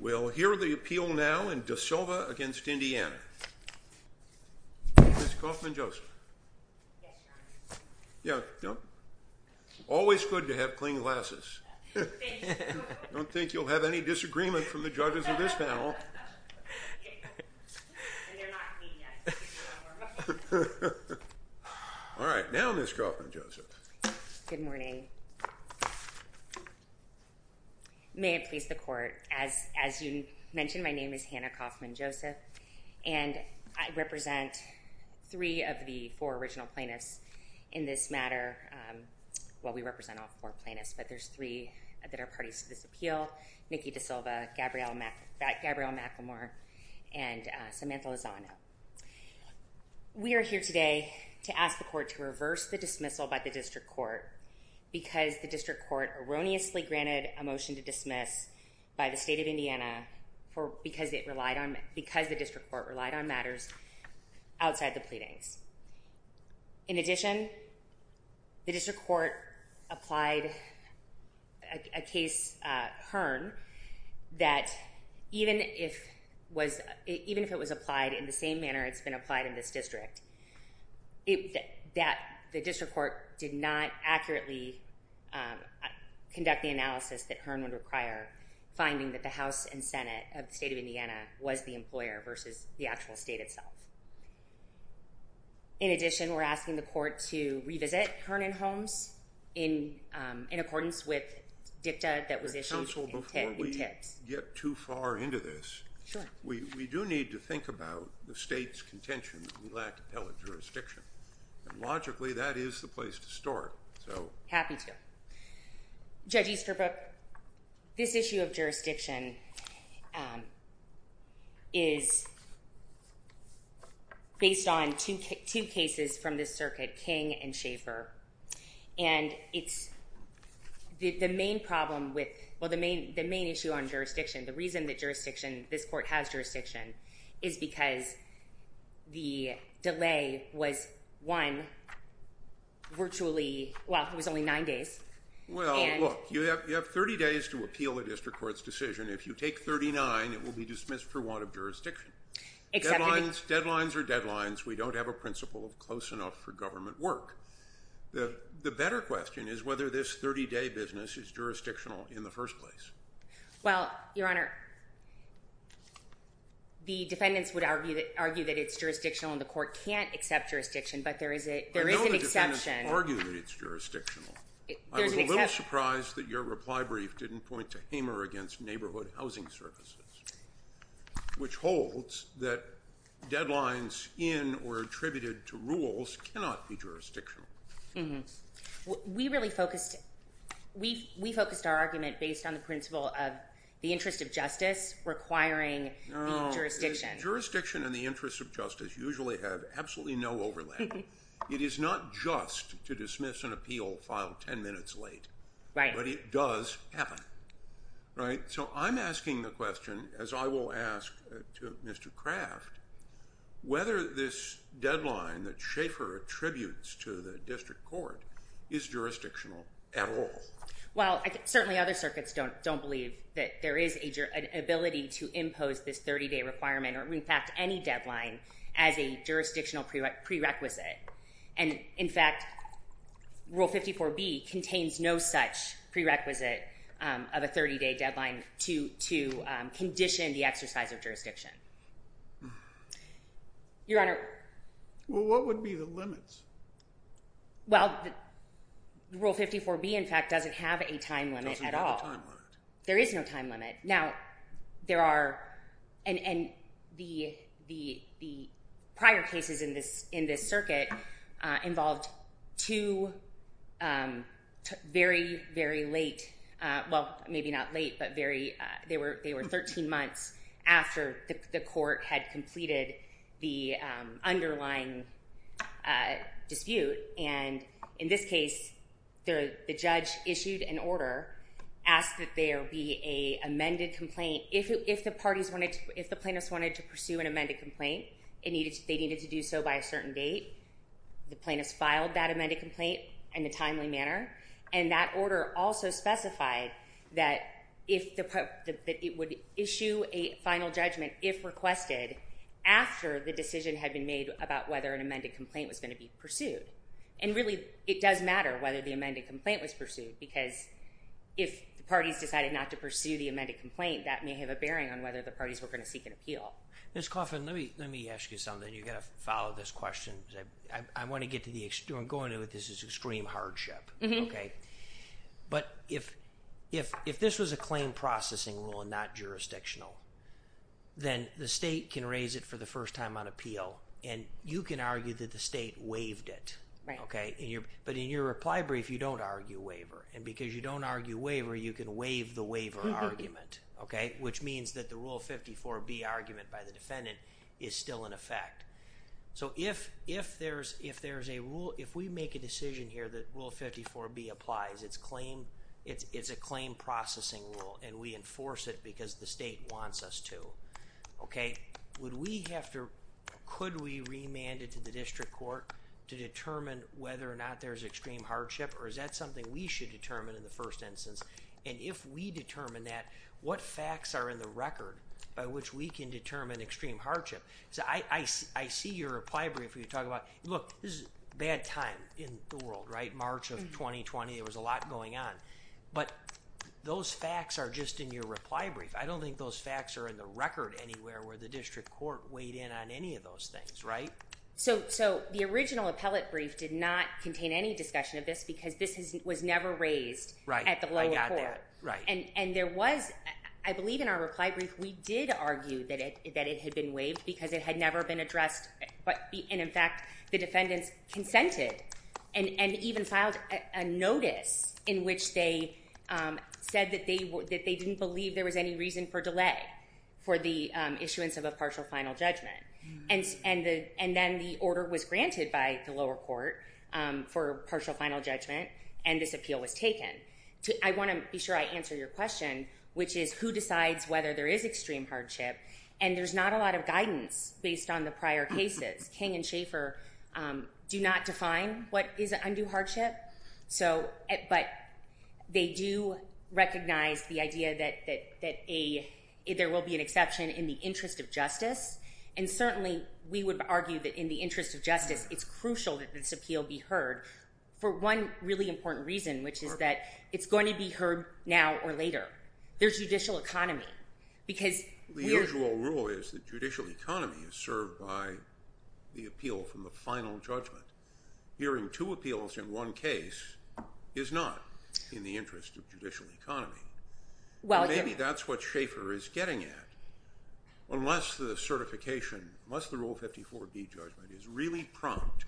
We'll hear the appeal now in DaSilva v. Indiana. Ms. Kauffman-Joseph. Yes, Your Honor. Yeah, yep. Always good to have clean glasses. Thank you, Your Honor. I don't think you'll have any disagreement from the judges of this panel. And they're not clean yet. All right, now Ms. Kauffman-Joseph. Good morning. May it please the Court. As you mentioned, my name is Hannah Kauffman-Joseph. And I represent three of the four original plaintiffs in this matter. Well, we represent all four plaintiffs, but there's three that are parties to this appeal. Niki DaSilva, Gabrielle McLemore, and Samantha Lozano. We are here today to ask the Court to reverse the dismissal by the District Court because the District Court erroneously granted a motion to dismiss by the State of Indiana because the District Court relied on matters outside the pleadings. In addition, the District Court applied a case, Hearn, that even if it was applied in the same manner it's been applied in this district, that the District Court did not accurately conduct the analysis that Hearn would require, finding that the House and Senate of the State of Indiana was the employer versus the actual state itself. In addition, we're asking the Court to revisit Hearn and Holmes in accordance with dicta that was issued in Tibbs. Counsel, before we get too far into this, we do need to think about the State's contention that we lack appellate jurisdiction. Logically, that is the place to start. Happy to. Judge Easterbrook, this issue of jurisdiction is based on two cases from this circuit, King and Schaffer. And it's the main problem with, well, the main issue on jurisdiction, the reason that jurisdiction, this Court has jurisdiction, is because the delay was one, virtually, well, it was only nine days. Well, look, you have 30 days to appeal the District Court's decision. If you take 39, it will be dismissed for want of jurisdiction. Deadlines are deadlines. We don't have a principle close enough for government work. The better question is whether this 30-day business is jurisdictional in the first place. Well, Your Honor, the defendants would argue that it's jurisdictional and the Court can't accept jurisdiction, but there is an exception. I know the defendants argue that it's jurisdictional. I was a little surprised that your reply brief didn't point to Hamer against Neighborhood Housing Services, which holds that deadlines in or attributed to rules cannot be jurisdictional. We really focused our argument based on the principle of the interest of justice requiring the jurisdiction. Jurisdiction and the interest of justice usually have absolutely no overlap. It is not just to dismiss an appeal filed 10 minutes late, but it does happen. So I'm asking the question, as I will ask Mr. Kraft, whether this deadline that Schaefer attributes to the district court is jurisdictional at all. Well, certainly other circuits don't believe that there is an ability to impose this 30-day requirement or, in fact, any deadline as a jurisdictional prerequisite. In fact, Rule 54B contains no such prerequisite of a 30-day deadline to condition the exercise of jurisdiction. Your Honor. Well, what would be the limits? Well, Rule 54B, in fact, doesn't have a time limit at all. Doesn't have a time limit. There is no time limit. Now, there are, and the prior cases in this circuit involved two very, very late, well, maybe not late, but they were 13 months after the court had completed the underlying dispute. And in this case, the judge issued an order, asked that there be an amended complaint. If the plaintiffs wanted to pursue an amended complaint, they needed to do so by a certain date. The plaintiffs filed that amended complaint in a timely manner. And that order also specified that it would issue a final judgment, if requested, after the decision had been made about whether an amended complaint was going to be pursued. And really, it does matter whether the amended complaint was pursued because if the parties decided not to pursue the amended complaint, that may have a bearing on whether the parties were going to seek an appeal. Ms. Coffin, let me ask you something. You've got to follow this question. I want to get to the extreme. Going into this is extreme hardship. But if this was a claim processing rule and not jurisdictional, then the state can raise it for the first time on appeal, and you can argue that the state waived it. But in your reply brief, you don't argue waiver. And because you don't argue waiver, you can waive the waiver argument, which means that the Rule 54B argument by the defendant is still in effect. So if there's a rule, if we make a decision here that Rule 54B applies, it's a claim processing rule, and we enforce it because the state wants us to. Okay? Would we have to, could we remand it to the district court to determine whether or not there's extreme hardship, or is that something we should determine in the first instance? And if we determine that, what facts are in the record by which we can determine extreme hardship? So I see your reply brief where you talk about, look, this is a bad time in the world, right? March of 2020, there was a lot going on. But those facts are just in your reply brief. I don't think those facts are in the record anywhere where the district court weighed in on any of those things, right? So the original appellate brief did not contain any discussion of this because this was never raised at the lower court. Right, I got that. And there was, I believe in our reply brief, we did argue that it had been waived because it had never been addressed. And in fact, the defendants consented and even filed a notice in which they said that they didn't believe there was any reason for delay for the issuance of a partial final judgment. And then the order was granted by the lower court for partial final judgment, and this appeal was taken. I want to be sure I answer your question, which is who decides whether there is extreme hardship. And there's not a lot of guidance based on the prior cases. King and Schaffer do not define what is an undue hardship, but they do recognize the idea that there will be an exception in the interest of justice. And certainly we would argue that in the interest of justice, it's crucial that this appeal be heard for one really important reason, which is that it's going to be heard now or later. There's judicial economy. The usual rule is that judicial economy is served by the appeal from the final judgment. Hearing two appeals in one case is not in the interest of judicial economy. Maybe that's what Schaffer is getting at. Unless the certification, unless the Rule 54b judgment is really prompt,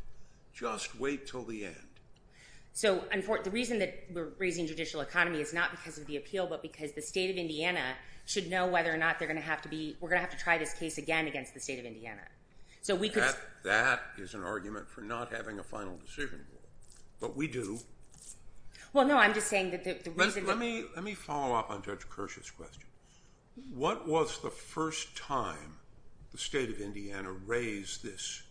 just wait until the end. The reason that we're raising judicial economy is not because of the appeal, but because the State of Indiana should know whether or not we're going to have to try this case again against the State of Indiana. That is an argument for not having a final decision rule, but we do. Well, no, I'm just saying that the reason... Let me follow up on Judge Kirsch's question. What was the first time the State of Indiana raised this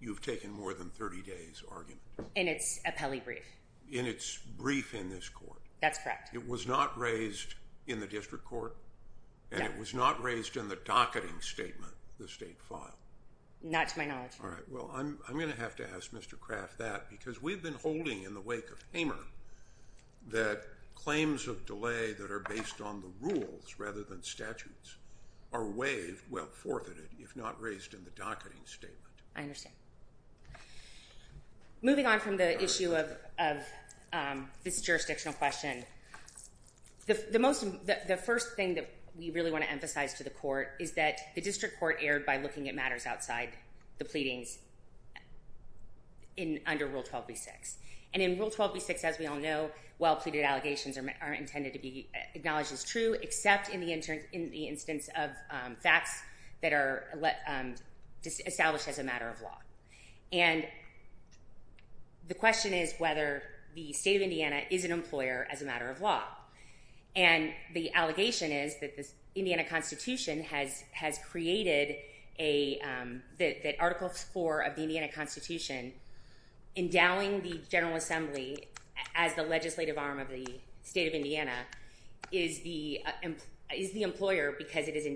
you've taken more than 30 days argument? In its appellee brief. In its brief in this court? That's correct. It was not raised in the district court? No. And it was not raised in the docketing statement, the State file? Not to my knowledge. All right. Well, I'm going to have to ask Mr. Kraft that because we've been holding in the wake of Hamer that claims of delay that are based on the rules rather than statutes are waived, well, forfeited, if not raised in the docketing statement. I understand. Moving on from the issue of this jurisdictional question, the first thing that we really want to emphasize to the court is that the district court erred by looking at matters outside the pleadings under Rule 12.B.6. And in Rule 12.B.6, as we all know, well-pleaded allegations are intended to be acknowledged as true except in the instance of facts that are established as a matter of law. And the question is whether the State of Indiana is an employer as a matter of law. And the allegation is that the Indiana Constitution has created a article 4 of the Indiana Constitution endowing the General Assembly as the legislative arm of the State of Indiana is the employer because it is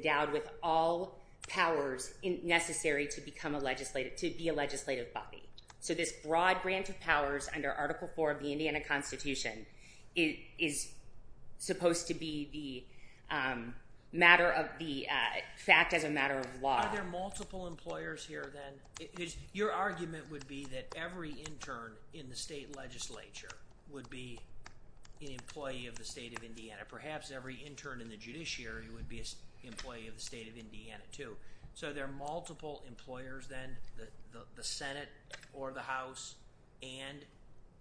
all powers necessary to become a legislative, to be a legislative body. So this broad branch of powers under Article 4 of the Indiana Constitution is supposed to be the matter of the fact as a matter of law. Are there multiple employers here then? Your argument would be that every intern in the State Legislature would be an employee of the State of Indiana. Perhaps every intern in the judiciary would be an employee of the State of Indiana too. So there are multiple employers then, the Senate or the House and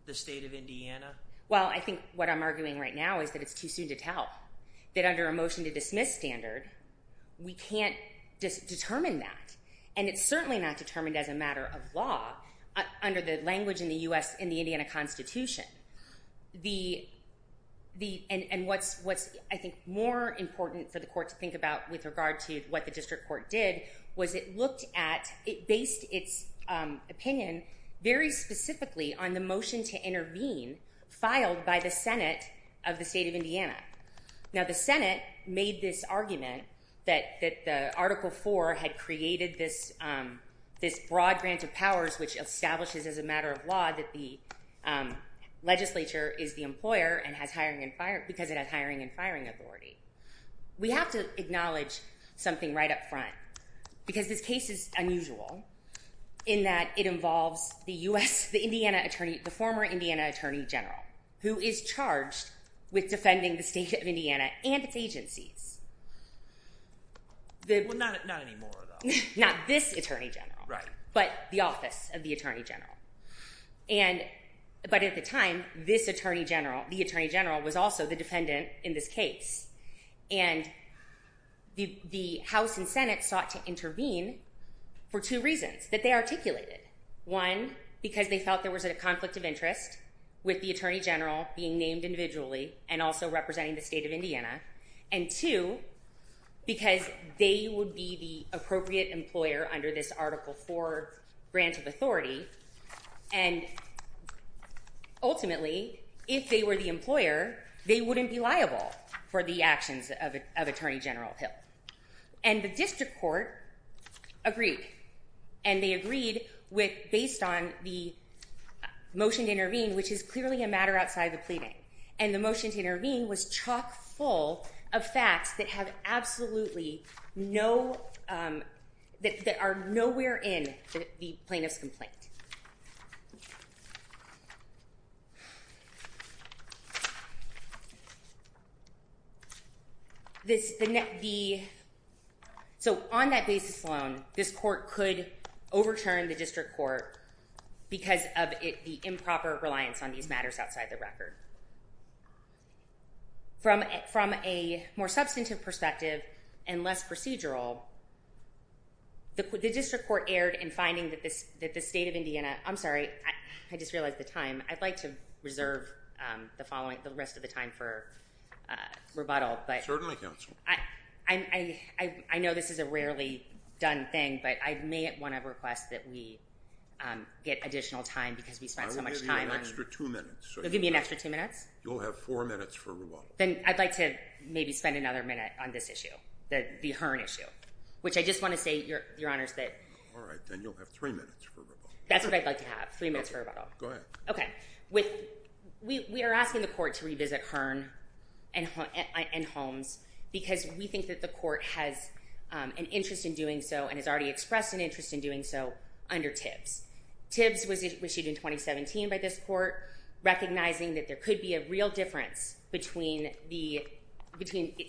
the State of Indiana? Well, I think what I'm arguing right now is that it's too soon to tell, that under a motion to dismiss standard, we can't determine that. And it's certainly not determined as a matter of law under the language in the Indiana Constitution. And what's, I think, more important for the Court to think about with regard to what the District Court did was it looked at, it based its opinion very specifically on the motion to intervene filed by the Senate of the State of Indiana. Now the Senate made this argument that Article 4 had created this broad branch of powers which establishes as a matter of law that the legislature is the employer because it has hiring and firing authority. We have to acknowledge something right up front because this case is unusual in that it involves the former Indiana Attorney General who is charged with defending the State of Indiana and its agencies. Well, not anymore though. Not this Attorney General, but the office of the Attorney General. But at the time, this Attorney General, the Attorney General, was also the defendant in this case. And the House and Senate sought to intervene for two reasons that they articulated. One, because they felt there was a conflict of interest with the Attorney General being named individually and also representing the State of Indiana. And two, because they would be the appropriate employer under this Article 4 branch of authority. And ultimately, if they were the employer, they wouldn't be liable for the actions of Attorney General Hill. And the district court agreed. And they agreed based on the motion to intervene, which is clearly a matter outside the pleading. And the motion to intervene was chock full of facts that are nowhere in the plaintiff's complaint. So on that basis alone, this court could overturn the district court because of the improper reliance on these matters outside the record. From a more substantive perspective and less procedural, the district court erred in finding that the State of Indiana... I'm sorry, I just realized the time. I'd like to reserve the following, the rest of the time for rebuttal. Certainly, counsel. I know this is a rarely done thing, but I may want to request that we get additional time because we spent so much time on it. Give me an extra two minutes. You'll give me an extra two minutes? You'll have four minutes for rebuttal. Then I'd like to maybe spend another minute on this issue, the Hearn issue, which I just want to say, Your Honors, that... All right, then you'll have three minutes for rebuttal. That's what I'd like to have, three minutes for rebuttal. Go ahead. Okay. We are asking the court to revisit Hearn and Holmes because we think that the court has an interest in doing so and has already expressed an interest in doing so under Tibbs. Tibbs was issued in 2017 by this court, recognizing that there could be a real difference between a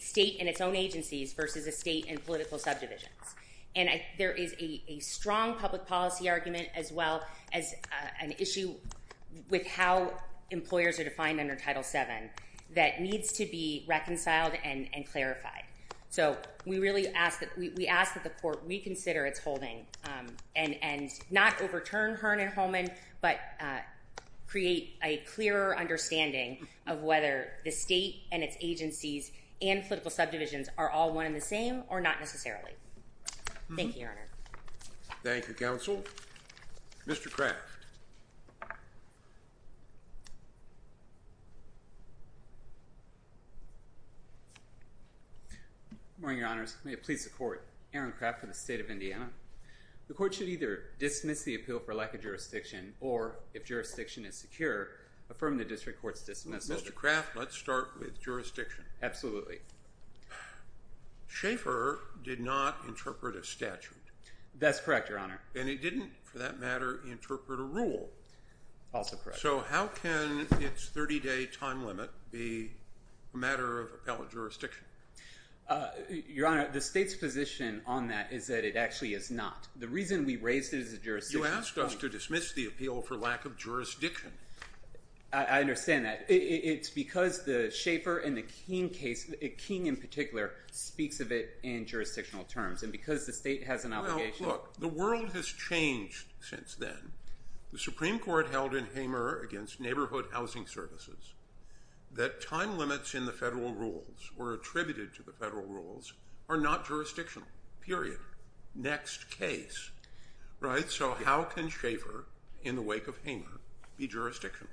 state and its own agencies versus a state and political subdivisions. And there is a strong public policy argument as well as an issue with how employers are defined under Title VII that needs to be reconciled and clarified. So we ask that the court reconsider its holding and not overturn Hearn and Holman, but create a clearer understanding of whether the state and its agencies and political subdivisions are all one and the same or not necessarily. Thank you, Your Honor. Thank you, counsel. Mr. Kraft. Good morning, Your Honors. May it please the court. Aaron Kraft for the State of Indiana. The court should either dismiss the appeal for lack of jurisdiction or, if jurisdiction is secure, affirm the district court's dismissal. Mr. Kraft, let's start with jurisdiction. Absolutely. Schaefer did not interpret a statute. That's correct, Your Honor. And he didn't, for that matter, interpret a rule. Also correct. So how can its 30-day time limit be a matter of appellate jurisdiction? Your Honor, the state's position on that is that it actually is not. The reason we raised it as a jurisdiction point— You asked us to dismiss the appeal for lack of jurisdiction. I understand that. It's because the Schaefer and the King case, King in particular, speaks of it in jurisdictional terms. And because the state has an obligation— Well, look, the world has changed since then. The Supreme Court held in Hamer against neighborhood housing services that time limits in the federal rules or attributed to the federal rules are not jurisdictional, period, next case. So how can Schaefer, in the wake of Hamer, be jurisdictional?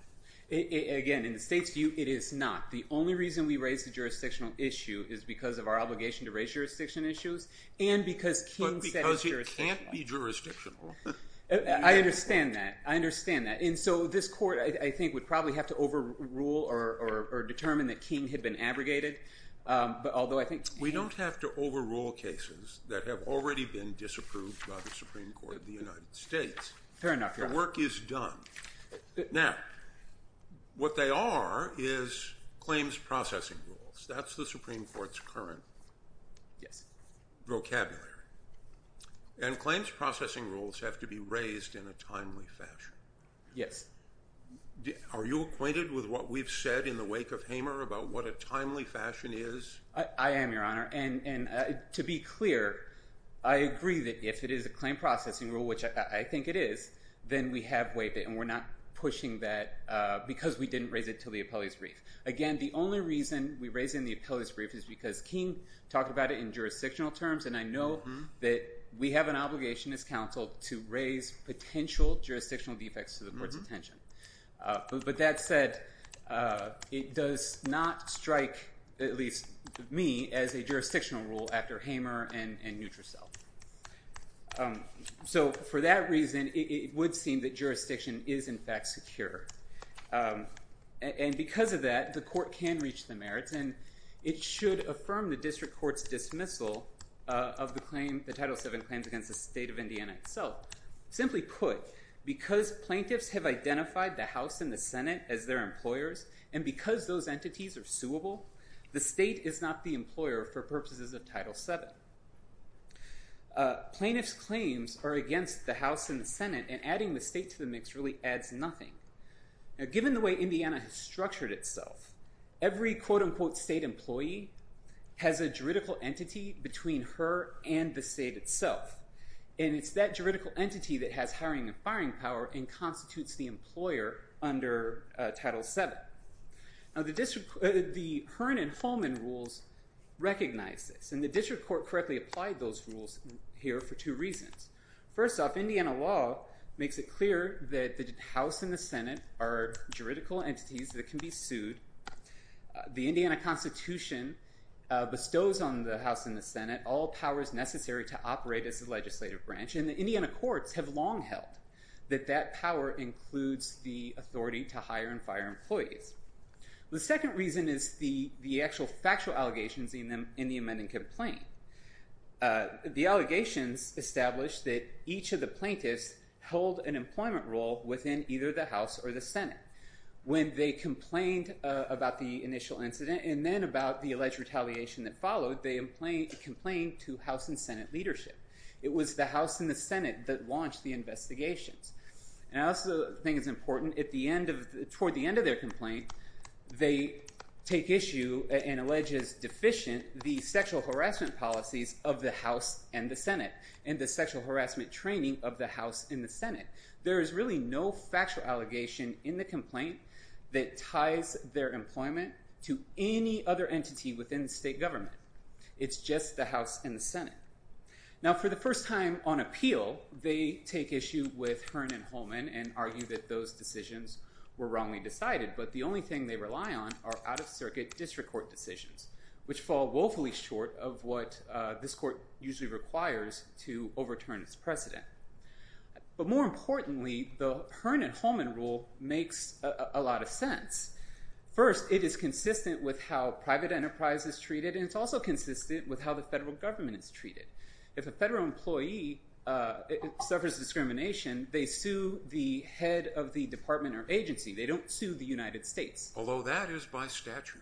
Again, in the state's view, it is not. The only reason we raised the jurisdictional issue is because of our obligation to raise jurisdiction issues and because King said it's jurisdictional. But because it can't be jurisdictional. I understand that. I understand that. And so this court, I think, would probably have to overrule or determine that King had been abrogated, although I think— We don't have to overrule cases that have already been disapproved by the Supreme Court of the United States. Fair enough, Your Honor. The work is done. Now, what they are is claims processing rules. That's the Supreme Court's current vocabulary. And claims processing rules have to be raised in a timely fashion. Yes. Are you acquainted with what we've said in the wake of Hamer about what a timely fashion is? I am, Your Honor. And to be clear, I agree that if it is a claim processing rule, which I think it is, then we have waived it and we're not pushing that because we didn't raise it to the appellate's brief. Again, the only reason we raise it in the appellate's brief is because King talked about it in jurisdictional terms and I know that we have an obligation as counsel to raise potential jurisdictional defects to the court's attention. But that said, it does not strike, at least to me, as a jurisdictional rule after Hamer and Nutrasilk. So for that reason, it would seem that jurisdiction is, in fact, secure. And because of that, the court can reach the merits and it should affirm the district court's dismissal of the Title VII claims against the state of Indiana itself. Simply put, because plaintiffs have identified the House and the Senate as their employers and because those entities are suable, the state is not the employer for purposes of Title VII. Plaintiffs' claims are against the House and the Senate and adding the state to the mix really adds nothing. Given the way Indiana has structured itself, every quote-unquote state employee has a juridical entity between her and the state itself. And it's that juridical entity that has hiring and firing power and constitutes the employer under Title VII. Now the Hearn and Holman rules recognize this and the district court correctly applied those rules here for two reasons. First off, Indiana law makes it clear that the House and the Senate are juridical entities that can be sued. The Indiana Constitution bestows on the House and the Senate all powers necessary to operate as a legislative branch and the Indiana courts have long held that that power includes the authority to hire and fire employees. The second reason is the actual factual allegations in the amending complaint. The allegations establish that each of the plaintiffs held an employment role within either the House or the Senate. When they complained about the initial incident and then about the alleged retaliation that followed, they complained to House and Senate leadership. It was the House and the Senate that launched the investigations. And I also think it's important, toward the end of their complaint, they take issue and allege as deficient the sexual harassment policies of the House and the Senate and the sexual harassment training of the House and the Senate. There is really no factual allegation in the complaint that ties their employment to any other entity within the state government. It's just the House and the Senate. Now for the first time on appeal, they take issue with Hearn and Holman and argue that those decisions were wrongly decided but the only thing they rely on are out-of-circuit district court decisions, which fall woefully short of what this court usually requires to overturn its precedent. But more importantly, the Hearn and Holman rule makes a lot of sense. First, it is consistent with how private enterprise is treated and it's also consistent with how the federal government is treated. If a federal employee suffers discrimination, they sue the head of the department or agency. They don't sue the United States. Although that is by statute.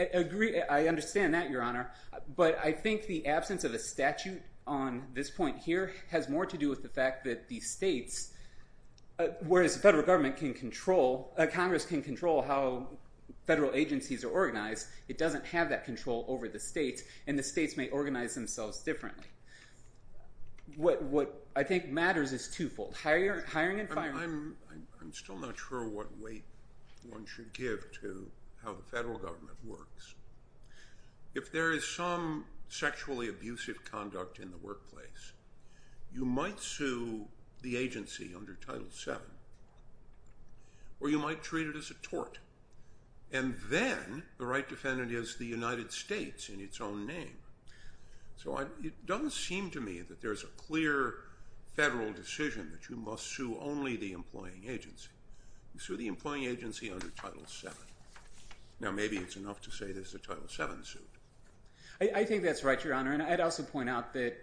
I agree. I understand that, Your Honor. But I think the absence of a statute on this point here has more to do with the fact that the states, whereas the federal government can control, Congress can control how federal agencies are organized, it doesn't have that control over the states and the states may organize themselves differently. What I think matters is twofold, hiring and firing. I'm still not sure what weight one should give to how the federal government works. If there is some sexually abusive conduct in the workplace, you might sue the agency under Title VII or you might treat it as a tort. And then the right defendant is the United States in its own name. So it doesn't seem to me that there's a clear federal decision that you must sue only the employing agency. Sue the employing agency under Title VII. Now maybe it's enough to say there's a Title VII suit. I think that's right, Your Honor. And I'd also point out that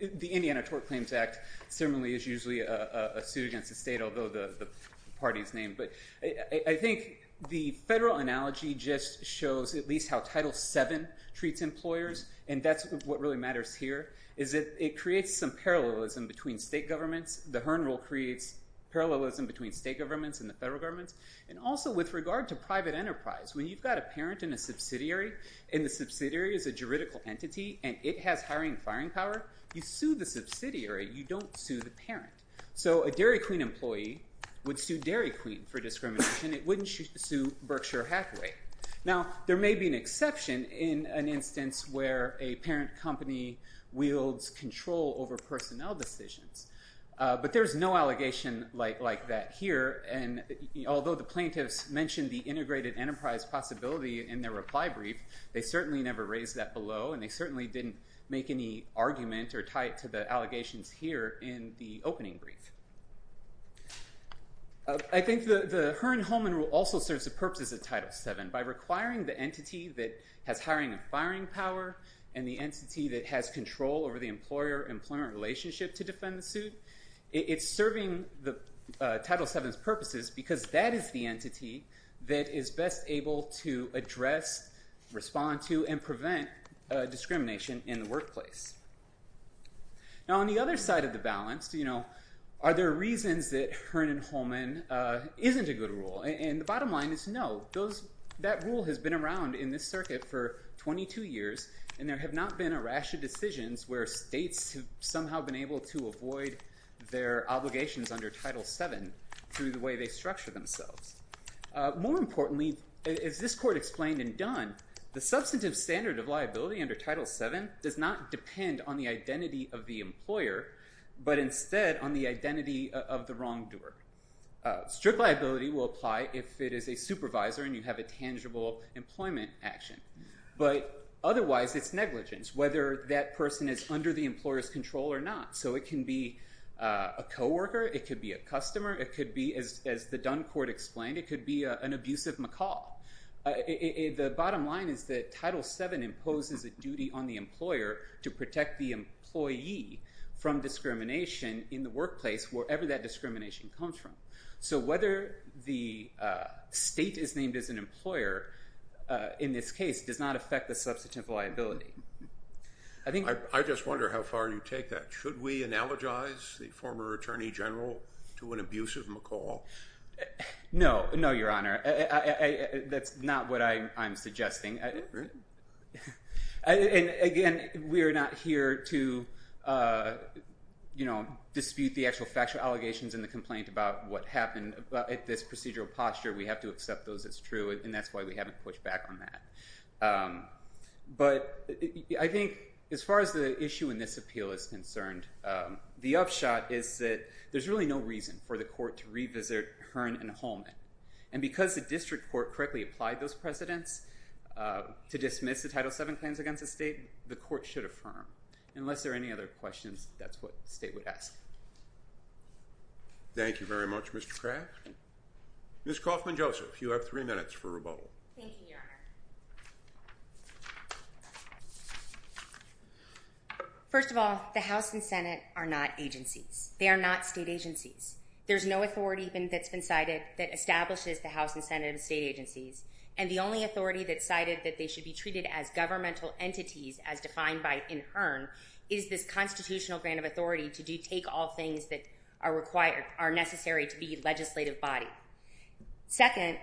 the Indiana Tort Claims Act similarly is usually a suit against the state, although the party is named. But I think the federal analogy just shows at least how Title VII treats employers and that's what really matters here is that it creates some parallelism between state governments. The Hearn Rule creates parallelism between state governments and the federal governments. And also with regard to private enterprise, when you've got a parent in a subsidiary and the subsidiary is a juridical entity and it has hiring and firing power, you sue the subsidiary. You don't sue the parent. So a Dairy Queen employee would sue Dairy Queen for discrimination. It wouldn't sue Berkshire Hathaway. Now there may be an exception in an instance where a parent company wields control over personnel decisions. But there's no allegation like that here. And although the plaintiffs mentioned the integrated enterprise possibility in their reply brief, they certainly never raised that below and they certainly didn't make any argument or tie it to the allegations here in the opening brief. I think the Hearn-Hulman Rule also serves the purposes of Title VII. By requiring the entity that has hiring and firing power and the entity that has control over the employer-employer relationship to defend the suit, it's serving Title VII's purposes because that is the entity that is best able to address, respond to, and prevent discrimination in the workplace. Now on the other side of the balance, are there reasons that Hearn and Hulman isn't a good rule? And the bottom line is no. That rule has been around in this circuit for 22 years and there have not been a rash of decisions where states have somehow been able to avoid their obligations under Title VII through the way they structure themselves. More importantly, as this court explained in Dunn, the substantive standard of liability under Title VII does not depend on the identity of the employer but instead on the identity of the wrongdoer. Strict liability will apply if it is a supervisor and you have a tangible employment action. But otherwise, it's negligence, whether that person is under the employer's control or not. So it can be a co-worker, it could be a customer, it could be, as the Dunn court explained, it could be an abusive macaw. The bottom line is that Title VII imposes a duty on the employer to protect the employee from discrimination in the workplace wherever that discrimination comes from. So whether the state is named as an employer in this case does not affect the substantive liability. I just wonder how far you take that. Should we analogize the former Attorney General to an abusive macaw? No, no, Your Honor. That's not what I'm suggesting. Again, we are not here to, you know, dispute the actual factual allegations and the complaint about what happened at this procedural posture. We have to accept those as true and that's why we haven't pushed back on that. But I think as far as the issue in this appeal is concerned, the upshot is that there's really no reason for the court to revisit Hearn and Holman. And because the district court correctly applied those precedents to dismiss the Title VII claims against the state, the court should affirm. Unless there are any other questions, that's what the state would ask. Thank you very much, Mr. Craft. Ms. Kaufman-Joseph, you have three minutes for rebuttal. Thank you, Your Honor. First of all, the House and Senate are not agencies. They are not state agencies. There's no authority that's been cited that establishes the House and Senate are state agencies. And the only authority that's cited that they should be treated as governmental entities, as defined by Hearn, is this constitutional grant of authority to take all things that are necessary to be legislative body. Second,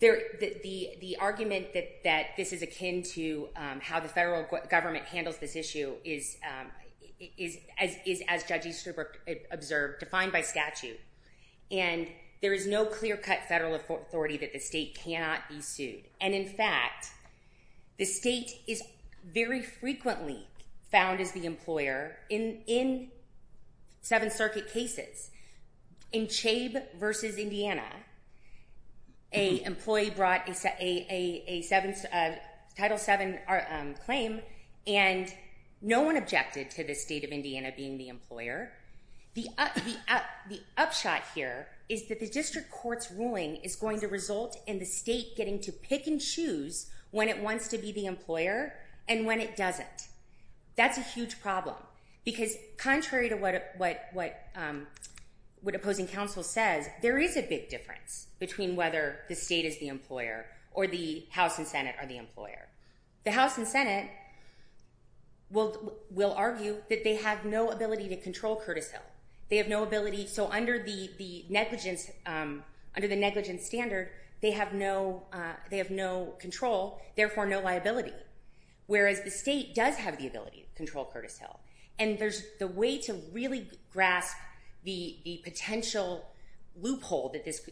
the argument that this is akin to how the federal government handles this issue is, as Judge Easterbrook observed, defined by statute. And there is no clear-cut federal authority that the state cannot be sued. And in fact, the state is very frequently found as the employer in Seventh Circuit cases. In Chabe v. Indiana, an employee brought a Title VII claim and no one objected to the state of Indiana being the employer. The upshot here is that the district court's ruling is going to result in the state getting to pick and choose when it wants to be the employer and when it doesn't. That's a huge problem, because contrary to what opposing counsel says, there is a big difference or the House and Senate are the employer. The House and Senate will argue that they have no ability to control Curtis Hill. They have no ability, so under the negligence standard, they have no control, therefore no liability. Whereas the state does have the ability to control Curtis Hill. And the way to really grasp the potential loophole that this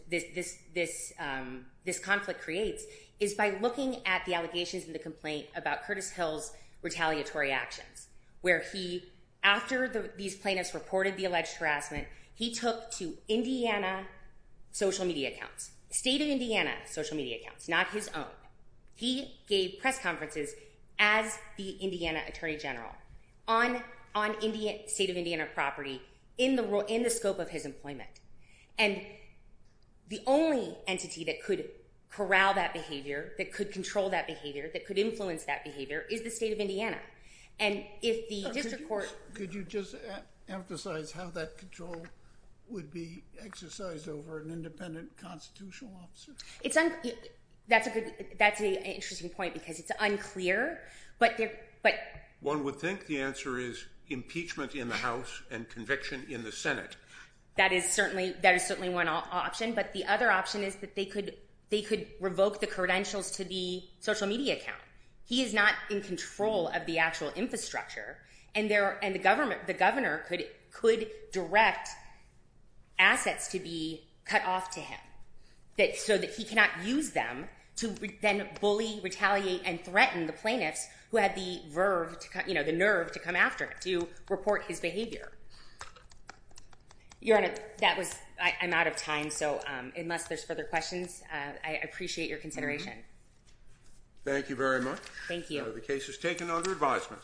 conflict creates is by looking at the allegations in the complaint about Curtis Hill's retaliatory actions, where he, after these plaintiffs reported the alleged harassment, he took to Indiana social media accounts, state of Indiana social media accounts, not his own. He gave press conferences as the Indiana Attorney General on state of Indiana property in the scope of his employment. And the only entity that could corral that behavior, that could control that behavior, that could influence that behavior, is the state of Indiana. And if the district court... Could you just emphasize how that control would be exercised over an independent constitutional officer? That's an interesting point, because it's unclear, but... One would think the answer is impeachment in the House and conviction in the Senate. That is certainly one option, but the other option is that they could revoke the credentials to the social media account. He is not in control of the actual infrastructure, and the governor could direct assets to be cut off to him, so that he cannot use them to then bully, retaliate, and threaten the plaintiffs who had the nerve to come after him, to report his behavior. Your Honor, I'm out of time, so unless there's further questions, I appreciate your consideration. Thank you very much. Thank you. The case is taken under advisement.